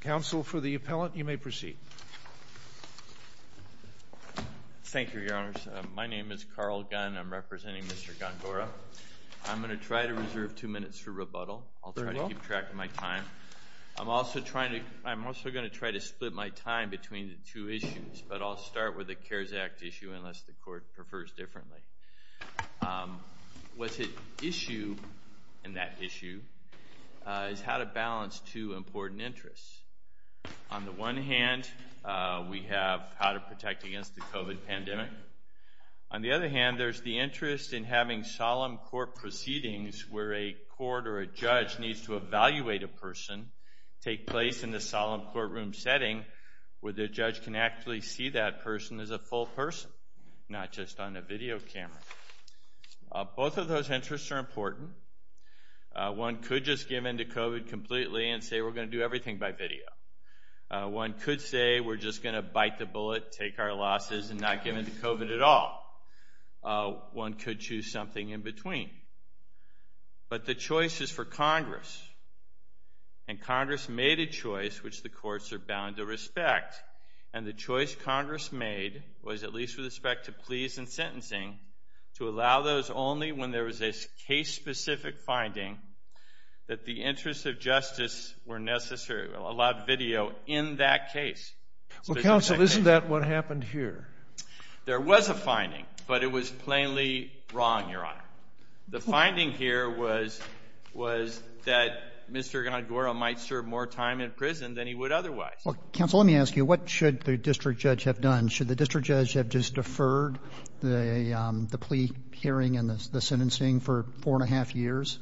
Counsel for the appellant, you may proceed. Thank you, Your Honors. My name is Carl Gunn. I'm representing Mr. Gongora. I'm going to try to reserve two minutes for rebuttal. I'll try to keep track of my time. I'm also going to try to split my time between the two issues, but I'll start with the CARES Act issue unless the court prefers differently. What's at issue in that issue is how to balance two important interests. On the one hand, we have how to protect against the COVID pandemic. On the other hand, there's the interest in having solemn court proceedings where a court or a judge needs to evaluate a person take place in the solemn courtroom setting where the judge can actually see that person as a full person, not just on a video camera. Both of those interests are important. One could just give in to COVID completely and say, we're going to do everything by video. One could say, we're just going to bite the bullet, take our losses, and not give in to COVID at all. One could choose something in between. But the choice is for Congress. And Congress made a choice which the courts are bound to respect. And the choice Congress made was, at least with respect to pleas and sentencing, to allow those only when there was a case-specific finding that the interests of justice were necessary, allowed video in that case. Well, counsel, isn't that what happened here? There was a finding. But it was plainly wrong, Your Honor. The finding here was that Mr. Ngorongoro might serve more time in prison than he would otherwise. Well, counsel, let me ask you, what should the district judge have done? Should the district judge have just for four and a half years?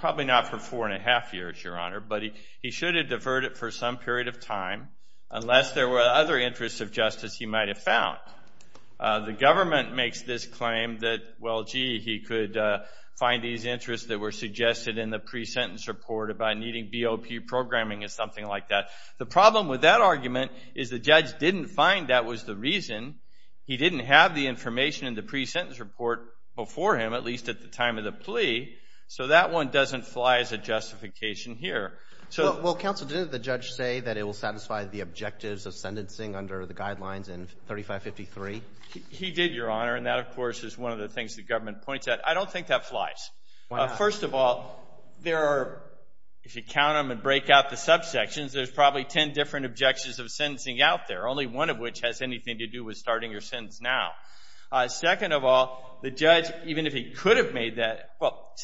Probably not for four and a half years, Your Honor. But he should have deferred it for some period of time, unless there were other interests of justice he might have found. The government makes this claim that, well, gee, he could find these interests that were suggested in the pre-sentence report about needing BOP programming and something like that. The problem with that argument is the judge didn't find that was the reason. He didn't have the information in the pre-sentence report before him, at least at the time of the plea. So that one doesn't fly as a justification here. Well, counsel, didn't the judge say that it will satisfy the objectives of sentencing under the guidelines in 3553? He did, Your Honor. And that, of course, is one of the things the government points out. I don't think that flies. First of all, if you count them and break out the subsections, there's probably 10 different objections of sentencing out there, only one of which has anything to do with starting your sentence now. Second of all, the judge, even if he could have made that, well,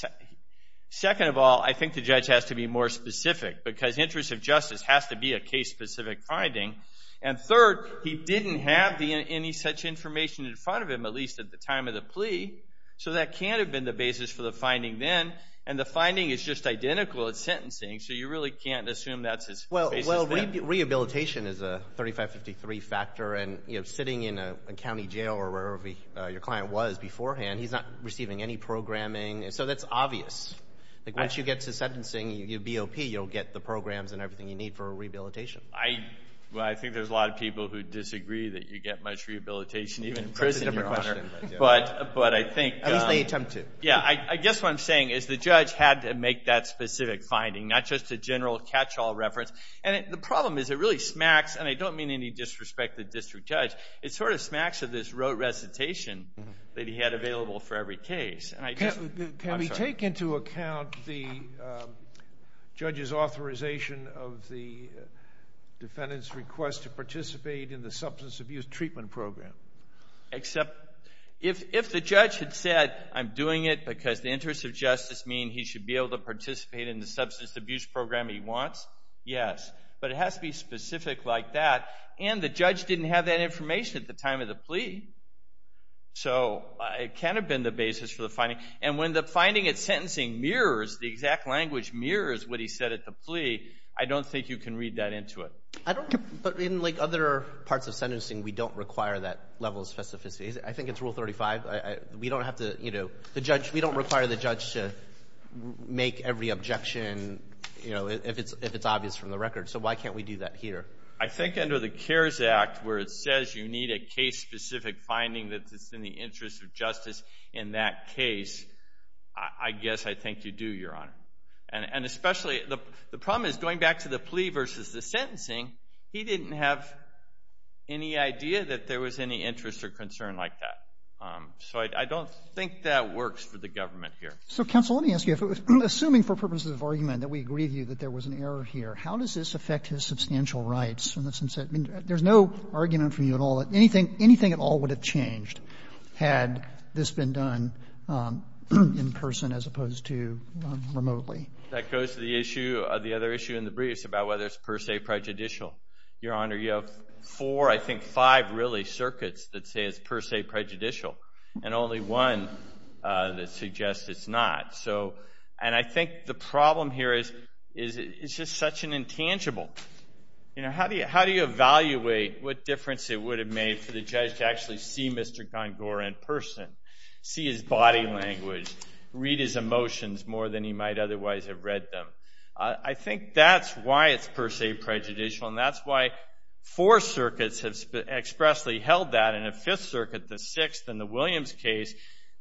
second of all, I think the judge has to be more specific. Because interest of justice has to be a case-specific finding. And third, he didn't have any such information in front of him, at least at the time of the plea. So that can't have been the basis for the finding then. And the finding is just identical at sentencing. So you really can't assume that's his basis. Well, rehabilitation is a 3553 factor. And sitting in a county jail or wherever your client was beforehand, he's not receiving any programming. So that's obvious. Like, once you get to sentencing, you BOP, you'll get the programs and everything you need for a rehabilitation. Well, I think there's a lot of people who disagree that you get much rehabilitation, even in prison, Your Honor. That's a different question. But I think. At least they attempt to. Yeah, I guess what I'm saying is the judge had to make that specific finding, not just a general catch-all reference. And the problem is it really smacks, and I don't mean any disrespect to the district judge, it sort of smacks of this rote recitation that he had available for every case. And I just. Can we take into account the judge's authorization of the defendant's request to participate in the substance abuse treatment program? Except if the judge had said, I'm doing it because the interests of justice mean he should be able to participate in the substance abuse program he wants, yes. But it has to be specific like that. And the judge didn't have that information at the time of the plea. So it can have been the basis for the finding. And when the finding at sentencing mirrors, the exact language mirrors what he said at the plea, I don't think you can read that into it. But in other parts of sentencing, we don't require that level of specificity. I think it's rule 35. We don't have to. We don't require the judge to make every objection if it's obvious from the record. So why can't we do that here? I think under the CARES Act, where it says you need a case-specific finding that's in the interest of justice in that case, I guess I think you do, Your Honor. And especially, the problem is going back to the plea versus the sentencing, he didn't have any idea that there was any interest or concern like that. So I don't think that works for the government here. So counsel, let me ask you. Assuming for purposes of argument that we agree with you that there was an error here, how does this affect his substantial rights? There's no argument from you at all that anything at all would have changed had this been done in person as opposed to remotely. That goes to the other issue in the briefs about whether it's per se prejudicial. Your Honor, you have four, I think five really, circuits that say it's per se prejudicial, and only one that suggests it's not. And I think the problem here is it's just such an intangible. How do you evaluate what difference it would have made for the judge to actually see Mr. Gongora in person, see his body language, read his emotions more than he might otherwise have read them? I think that's why it's per se prejudicial, and that's why four circuits have expressly held that, and a fifth circuit, the sixth in the Williams case,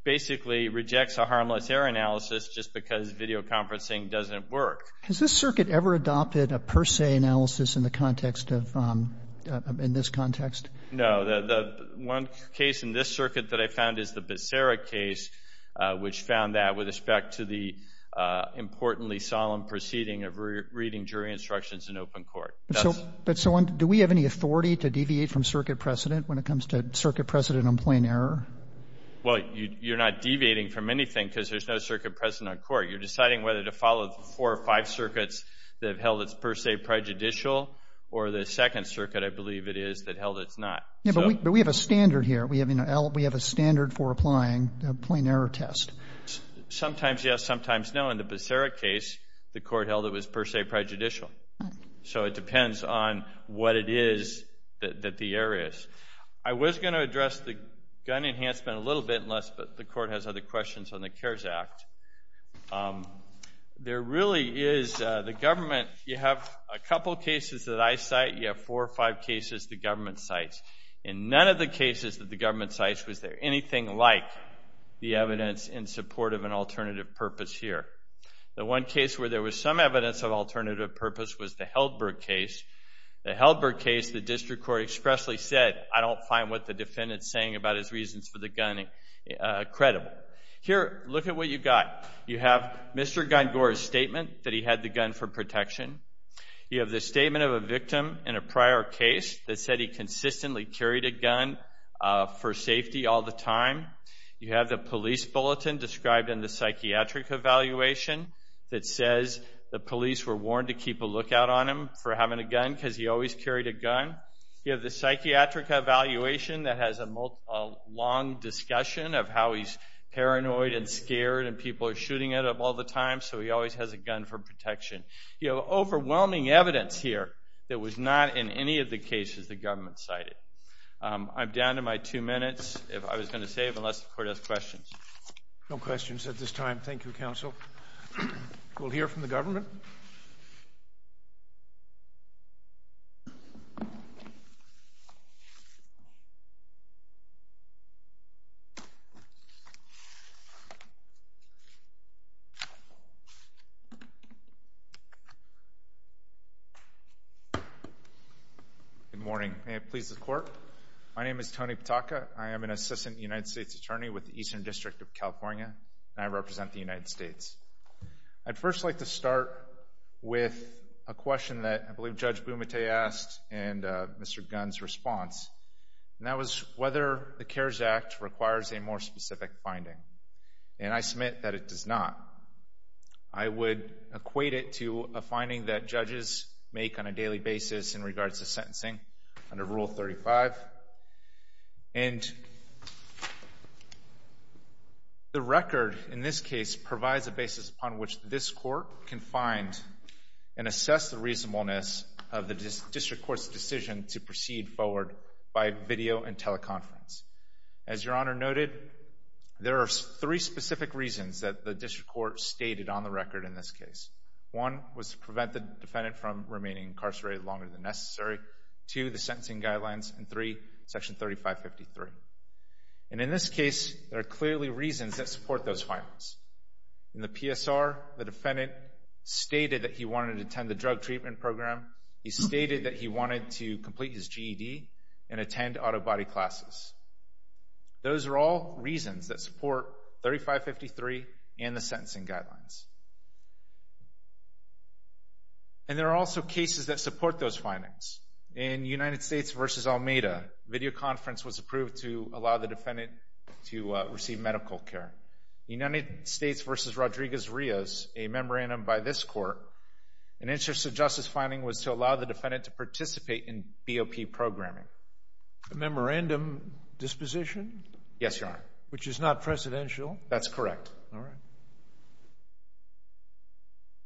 basically rejects a harmless error analysis just because videoconferencing doesn't work. Has this circuit ever adopted a per se analysis in the context of, in this context? No, the one case in this circuit that I found is the Becerra case, which found that with respect to the importantly solemn proceeding of reading jury instructions in open court. But so do we have any authority to deviate from circuit precedent when it comes to circuit precedent on plain error? Well, you're not deviating from anything because there's no circuit precedent on court. You're deciding whether to follow four or five circuits that have held it's per se prejudicial, or the second circuit, I believe it is, that held it's not. Yeah, but we have a standard here. We have a standard for applying a plain error test. Sometimes yes, sometimes no. In the Becerra case, the court held it was per se prejudicial. So it depends on what it is that the error is. I was going to address the gun enhancement a little bit unless the court has other questions on the CARES Act. There really is, the government, you have a couple of cases that I cite. You have four or five cases the government cites. In none of the cases that the government cites was there anything like the evidence in support of an alternative purpose here. The one case where there was some evidence of alternative purpose was the Heldberg case. The Heldberg case, the district court expressly said, I don't find what the defendant's saying about his reasons for the gun credible. Here, look at what you've got. You have Mr. Gungor's statement that he had the gun for protection. You have the statement of a victim in a prior case that said he consistently carried a gun for safety all the time. You have the police bulletin described in the psychiatric evaluation that says the police were warned to keep a lookout on him for having a gun because he always carried a gun. You have the psychiatric evaluation that has a long discussion of how he's paranoid and scared and people are shooting at him all the time, so he always has a gun for protection. You have overwhelming evidence here that was not in any of the cases the government cited. I'm down to my two minutes, if I was going to save, unless the court has questions. No questions at this time. Thank you, counsel. We'll hear from the government. Thank you. Good morning. May it please the court. My name is Tony Pataka. I am an assistant United States attorney with the Eastern District of California, and I represent the United States. I'd first like to start with a question that I believe Judge Bumate asked in Mr. Gunn's response, and that was whether the CARES Act requires a more specific finding. And I submit that it does not. I would equate it to a finding that judges make on a daily basis in regards to sentencing under Rule 35. And the record in this case provides a basis upon which this court can find and assess the reasonableness of the district court's decision to proceed forward by video and teleconference. As Your Honor noted, there are three specific reasons that the district court stated on the record in this case. One was to prevent the defendant from remaining incarcerated longer than necessary. Two, the sentencing guidelines. And three, Section 3553. And in this case, there are clearly reasons that support those findings. In the PSR, the defendant stated that he wanted to attend the drug treatment program. He stated that he wanted to complete his GED and attend auto body classes. Those are all reasons that support 3553 and the sentencing guidelines. And there are also cases that support those findings. In United States v. Almeida, video conference was approved to allow the defendant to receive medical care. United States v. Rodriguez-Rios, a memorandum by this court, an interest of justice finding was to allow the defendant to participate in BOP programming. A memorandum disposition? Yes, Your Honor. Which is not precedential? That's correct. All right.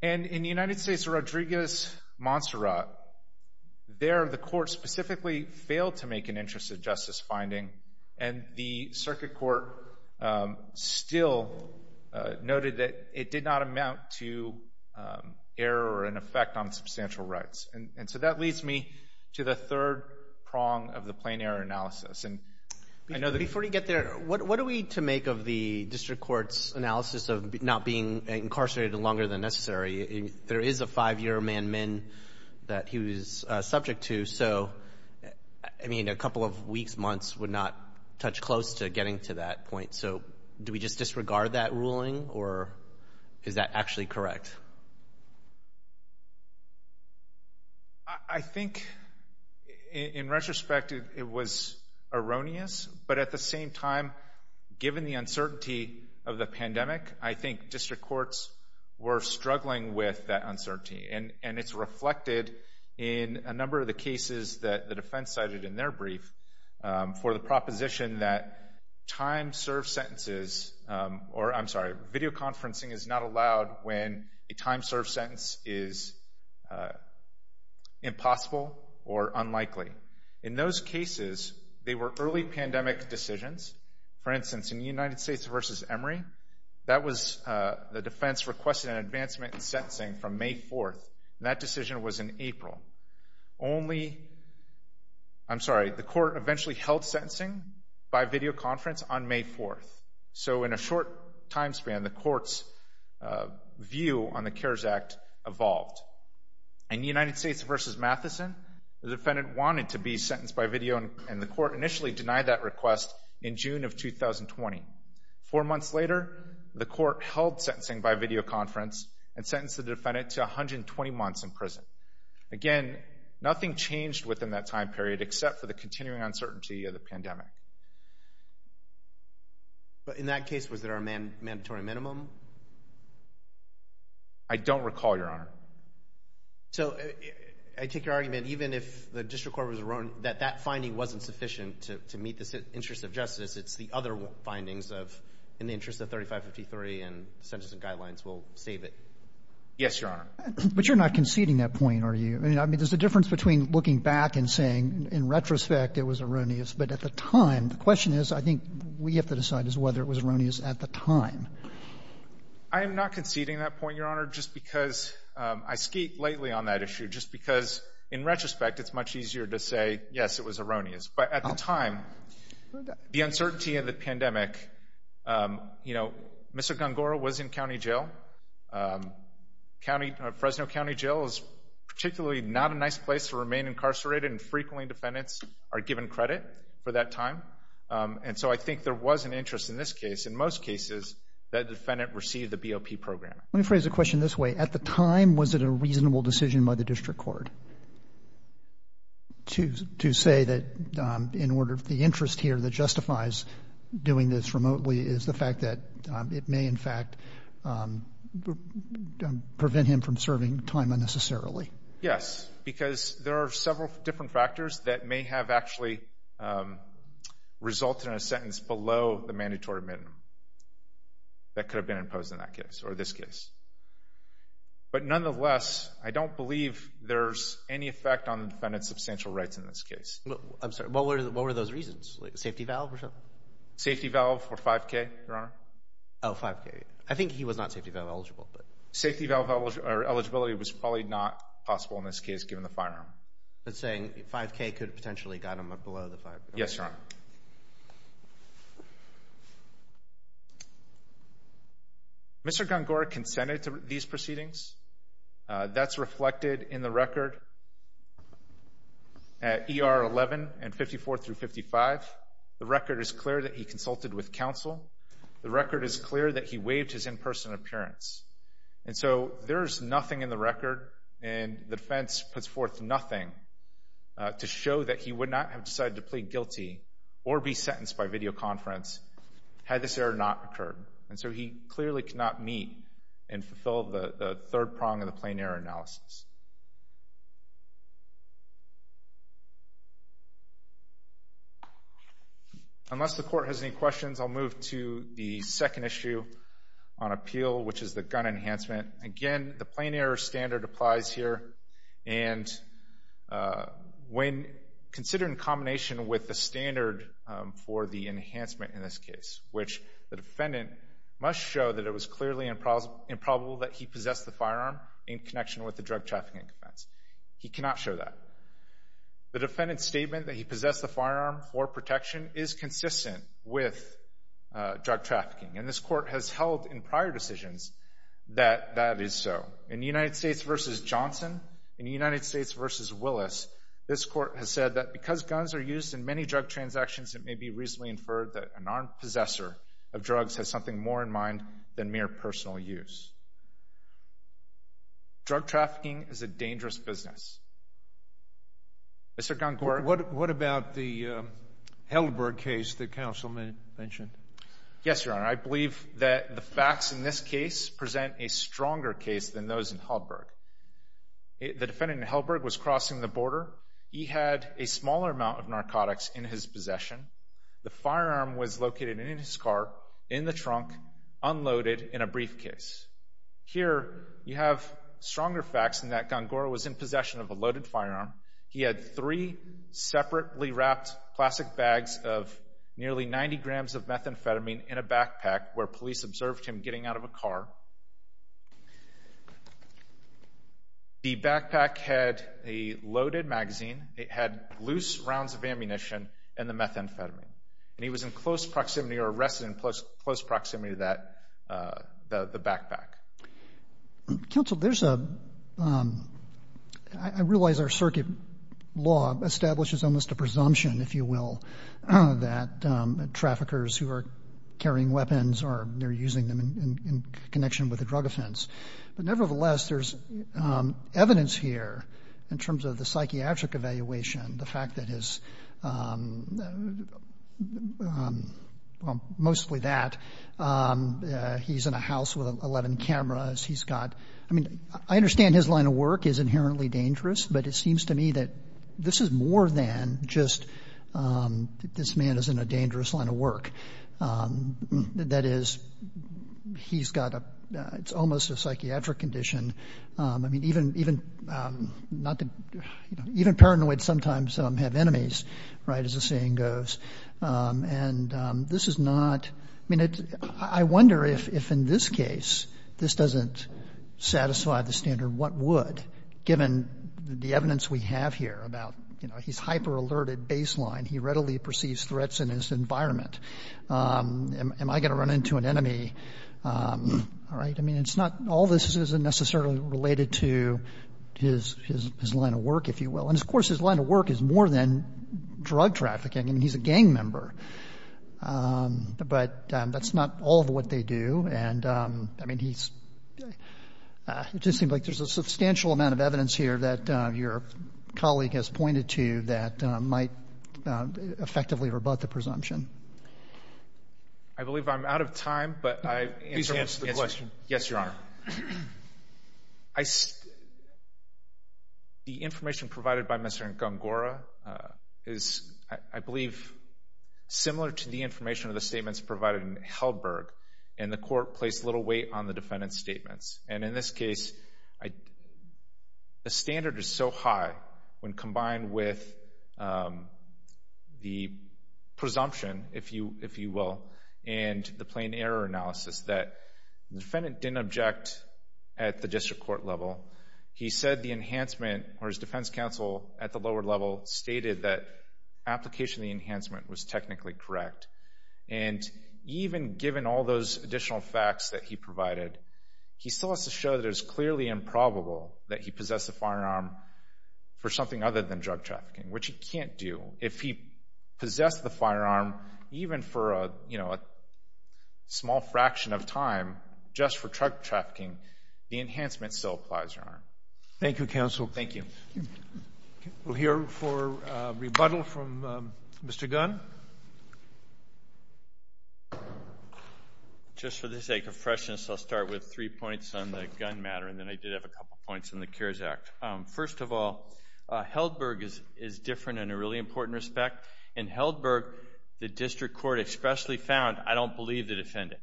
And in the United States v. Rodriguez-Monserrat, there the court specifically failed to make an interest of justice finding. And the circuit court still noted that it did not amount to error or an effect on substantial rights. And so that leads me to the third prong of the plain error analysis. And I know that- Before you get there, what are we to make of the district court's analysis of not being incarcerated longer than necessary? There is a five-year man-min that he was subject to. So I mean, a couple of weeks, months would not touch close to getting to that point. So do we just disregard that ruling or is that actually correct? I think in retrospect, it was erroneous, but at the same time, given the uncertainty of the pandemic, I think district courts were struggling with that uncertainty. And it's reflected in a number of the cases that the defense cited in their brief for the proposition that time served sentences, or I'm sorry, video conferencing is not allowed when a time served sentence is impossible or unlikely. In those cases, they were early pandemic decisions. For instance, in the United States versus Emory, that was the defense requested an advancement in sentencing from May 4th. And that decision was in April. Only, I'm sorry, the court eventually held sentencing by video conference on May 4th. So in a short time span, the court's view on the CARES Act evolved. In the United States versus Matheson, the defendant wanted to be sentenced by video and the court initially denied that request in June of 2020. Four months later, the court held sentencing by video conference and sentenced the defendant to 120 months in prison. Again, nothing changed within that time period except for the continuing uncertainty of the pandemic. But in that case, was there a mandatory minimum? I don't recall, Your Honor. So I take your argument, even if the district court was erroneous, that that finding wasn't sufficient to meet the interest of justice. It's the other findings of, in the interest of 3553 and sentencing guidelines will save it. Yes, Your Honor. But you're not conceding that point, are you? I mean, there's a difference between looking back and saying, in retrospect, it was erroneous. But at the time, the question is, I think we have to decide as to whether it was erroneous at the time. I am not conceding that point, Your Honor, just because I skeet lately on that issue, just because in retrospect, it's much easier to say, yes, it was erroneous. But at the time, the uncertainty of the pandemic, Mr. Gongora was in county jail. Fresno County Jail is particularly not a nice place to remain incarcerated and frequently defendants are given credit for that time. And so I think there was an interest in this case, in most cases, that defendant received the BOP program. Let me phrase the question this way. At the time, was it a reasonable decision by the district court to say that in order, the interest here that justifies doing this remotely is the fact that it may, in fact, prevent him from serving time unnecessarily? Yes, because there are several different factors that may have actually resulted in a sentence below the mandatory minimum that could have been imposed in that case or this case. But nonetheless, I don't believe there's any effect on the defendant's substantial rights in this case. I'm sorry, what were those reasons? Safety valve or something? Safety valve for 5K, Your Honor. Oh, 5K. I think he was not safety valve eligible, but. Safety valve eligibility was probably not possible in this case, given the firearm. That's saying 5K could have potentially got him below the 5K. Yes, Your Honor. Mr. Gongora consented to these proceedings. That's reflected in the record at ER 11 and 54 through 55. The record is clear that he consulted with counsel. The record is clear that he waived his in-person appearance. And so there's nothing in the record, and the defense puts forth nothing to show that he would not have decided to plead guilty or be sentenced by videoconference had this error not occurred. And so he clearly could not meet and fulfill the third prong of the plain error analysis. Unless the court has any questions, I'll move to the second issue on appeal, which is the gun enhancement. Again, the plain error standard applies here. And when considered in combination with the standard for the enhancement in this case, which the defendant must show that it was clearly improbable that he possessed the firearm in connection with the drug trafficking offense. He cannot show that. The defendant's statement that he possessed the firearm for protection is consistent with drug trafficking. And this court has held in prior decisions that that is so. In the United States v. Johnson, in the United States v. Willis, this court has said that because guns are used in many drug transactions, it may be reasonably inferred that an armed possessor of drugs has something more in mind than mere personal use. Drug trafficking is a dangerous business. Mr. Goncora. What about the Heldberg case that counsel mentioned? Yes, Your Honor. I believe that the facts in this case present a stronger case than those in Heldberg. The defendant in Heldberg was crossing the border. He had a smaller amount of narcotics in his possession. The firearm was located in his car, in the trunk, unloaded in a briefcase. Here, you have stronger facts in that Goncora was in possession of a loaded firearm. He had three separately wrapped plastic bags of nearly 90 grams of methamphetamine in a backpack where police observed him getting out of a car. The backpack had a loaded magazine. It had loose rounds of ammunition and the methamphetamine. And he was in close proximity or arrested in close proximity to the backpack. Counsel, I realize our circuit law establishes almost a presumption, if you will, that traffickers who are carrying weapons or they're using them in connection with a drug offense. But nevertheless, there's evidence here in terms of the psychiatric evaluation, the fact that his, well, mostly that. He's in a house with 11 cameras. He's got, I mean, I understand his line of work is inherently dangerous, but it seems to me that this is more than just this man is in a dangerous line of work. That is, he's got a, it's almost a psychiatric condition. I mean, even paranoid sometimes have enemies, right, as the saying goes. And this is not, I mean, I wonder if in this case, this doesn't satisfy the standard, what would, given the evidence we have here about, he's hyper-alerted baseline, he readily perceives threats in his environment. Am I going to run into an enemy? All right, I mean, it's not, all this isn't necessarily related to his line of work, if you will. And of course, his line of work is more than drug trafficking. I mean, he's a gang member. But that's not all of what they do. And I mean, he's, it just seems like there's a substantial amount of evidence here that your colleague has pointed to that might effectively rebut the presumption. I believe I'm out of time, but I answer the question. Yes, Your Honor. The information provided by Mr. Ngongora is, I believe, similar to the information of the statements provided in Heldberg, and the court placed little weight on the defendant's statements. And in this case, the standard is so high when combined with the presumption, if you will, and the plain error analysis that the defendant didn't object at the district court level. He said the enhancement, or his defense counsel at the lower level stated that application of the enhancement was technically correct. And even given all those additional facts that he provided, he still has to show that it is clearly improbable that he possessed a firearm for something other than drug trafficking, which he can't do. If he possessed the firearm, even for a small fraction of time, just for drug trafficking, the enhancement still applies, Your Honor. Thank you, counsel. Thank you. We'll hear for rebuttal from Mr. Gunn. Just for the sake of freshness, I'll start with three points on the gun matter, and then I did have a couple points on the CARES Act. First of all, Heldberg is different in a really important respect. In Heldberg, the district court expressly found, I don't believe the defendant.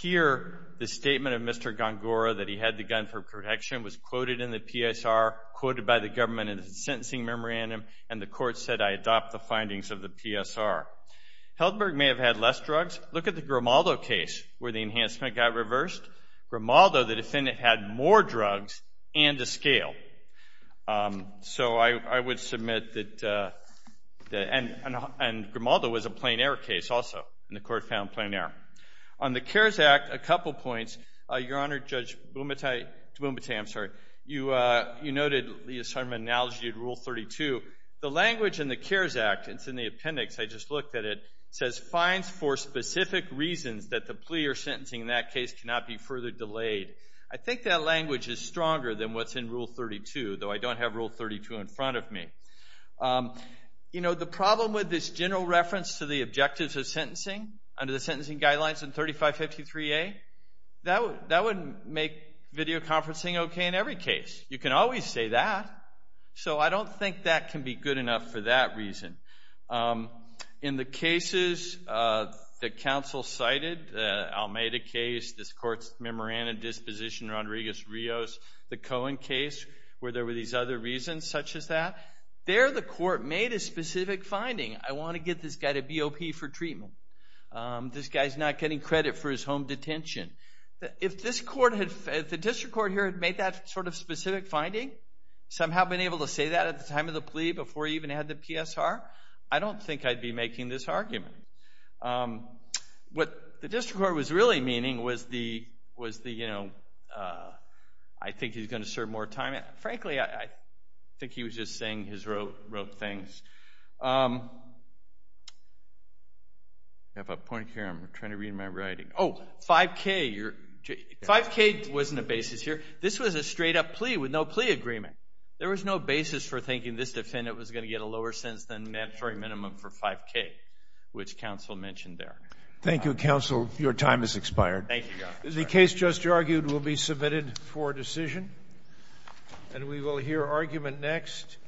Here, the statement of Mr. Gongora that he had the gun for protection was quoted in the PSR, quoted by the government in the sentencing memorandum, and the court said, I adopt the findings of the PSR. Heldberg may have had less drugs. Look at the Grimaldo case, where the enhancement got reversed. Grimaldo, the defendant had more drugs and a scale. So I would submit that, and Grimaldo was a plain error case also, and the court found plain error. On the CARES Act, a couple points. Your Honor, Judge D'Boumbatier, I'm sorry, you noted the assortment analogy of Rule 32. The language in the CARES Act, it's in the appendix, I just looked at it, says fines for specific reasons that the plea or sentencing in that case cannot be further delayed. I think that language is stronger than what's in Rule 32, though I don't have Rule 32 in front of me. You know, the problem with this general reference to the objectives of sentencing under the sentencing guidelines in 3553A, that would make video conferencing okay in every case. You can always say that. So I don't think that can be good enough for that reason. In the cases that counsel cited, the Almeida case, this court's memorandum of disposition, Rodriguez-Rios, the Cohen case, where there were these other reasons such as that, there the court made a specific finding. I want to get this guy to BOP for treatment. This guy's not getting credit for his home detention. If the district court here had made that sort of specific finding, somehow been able to say that at the time of the plea before he even had the PSR, I don't think I'd be making this argument. What the district court was really meaning was the, was the, you know, I think he's gonna serve more time, frankly, I think he was just saying his rote things. You have a point here, I'm trying to read my writing. Oh, 5K, you're, 5K wasn't a basis here. This was a straight up plea with no plea agreement. There was no basis for thinking this defendant was gonna get a lower sentence than mandatory minimum for 5K, which counsel mentioned there. Thank you, counsel. Your time has expired. Thank you, Your Honor. The case just argued will be submitted for decision. And we will hear argument next.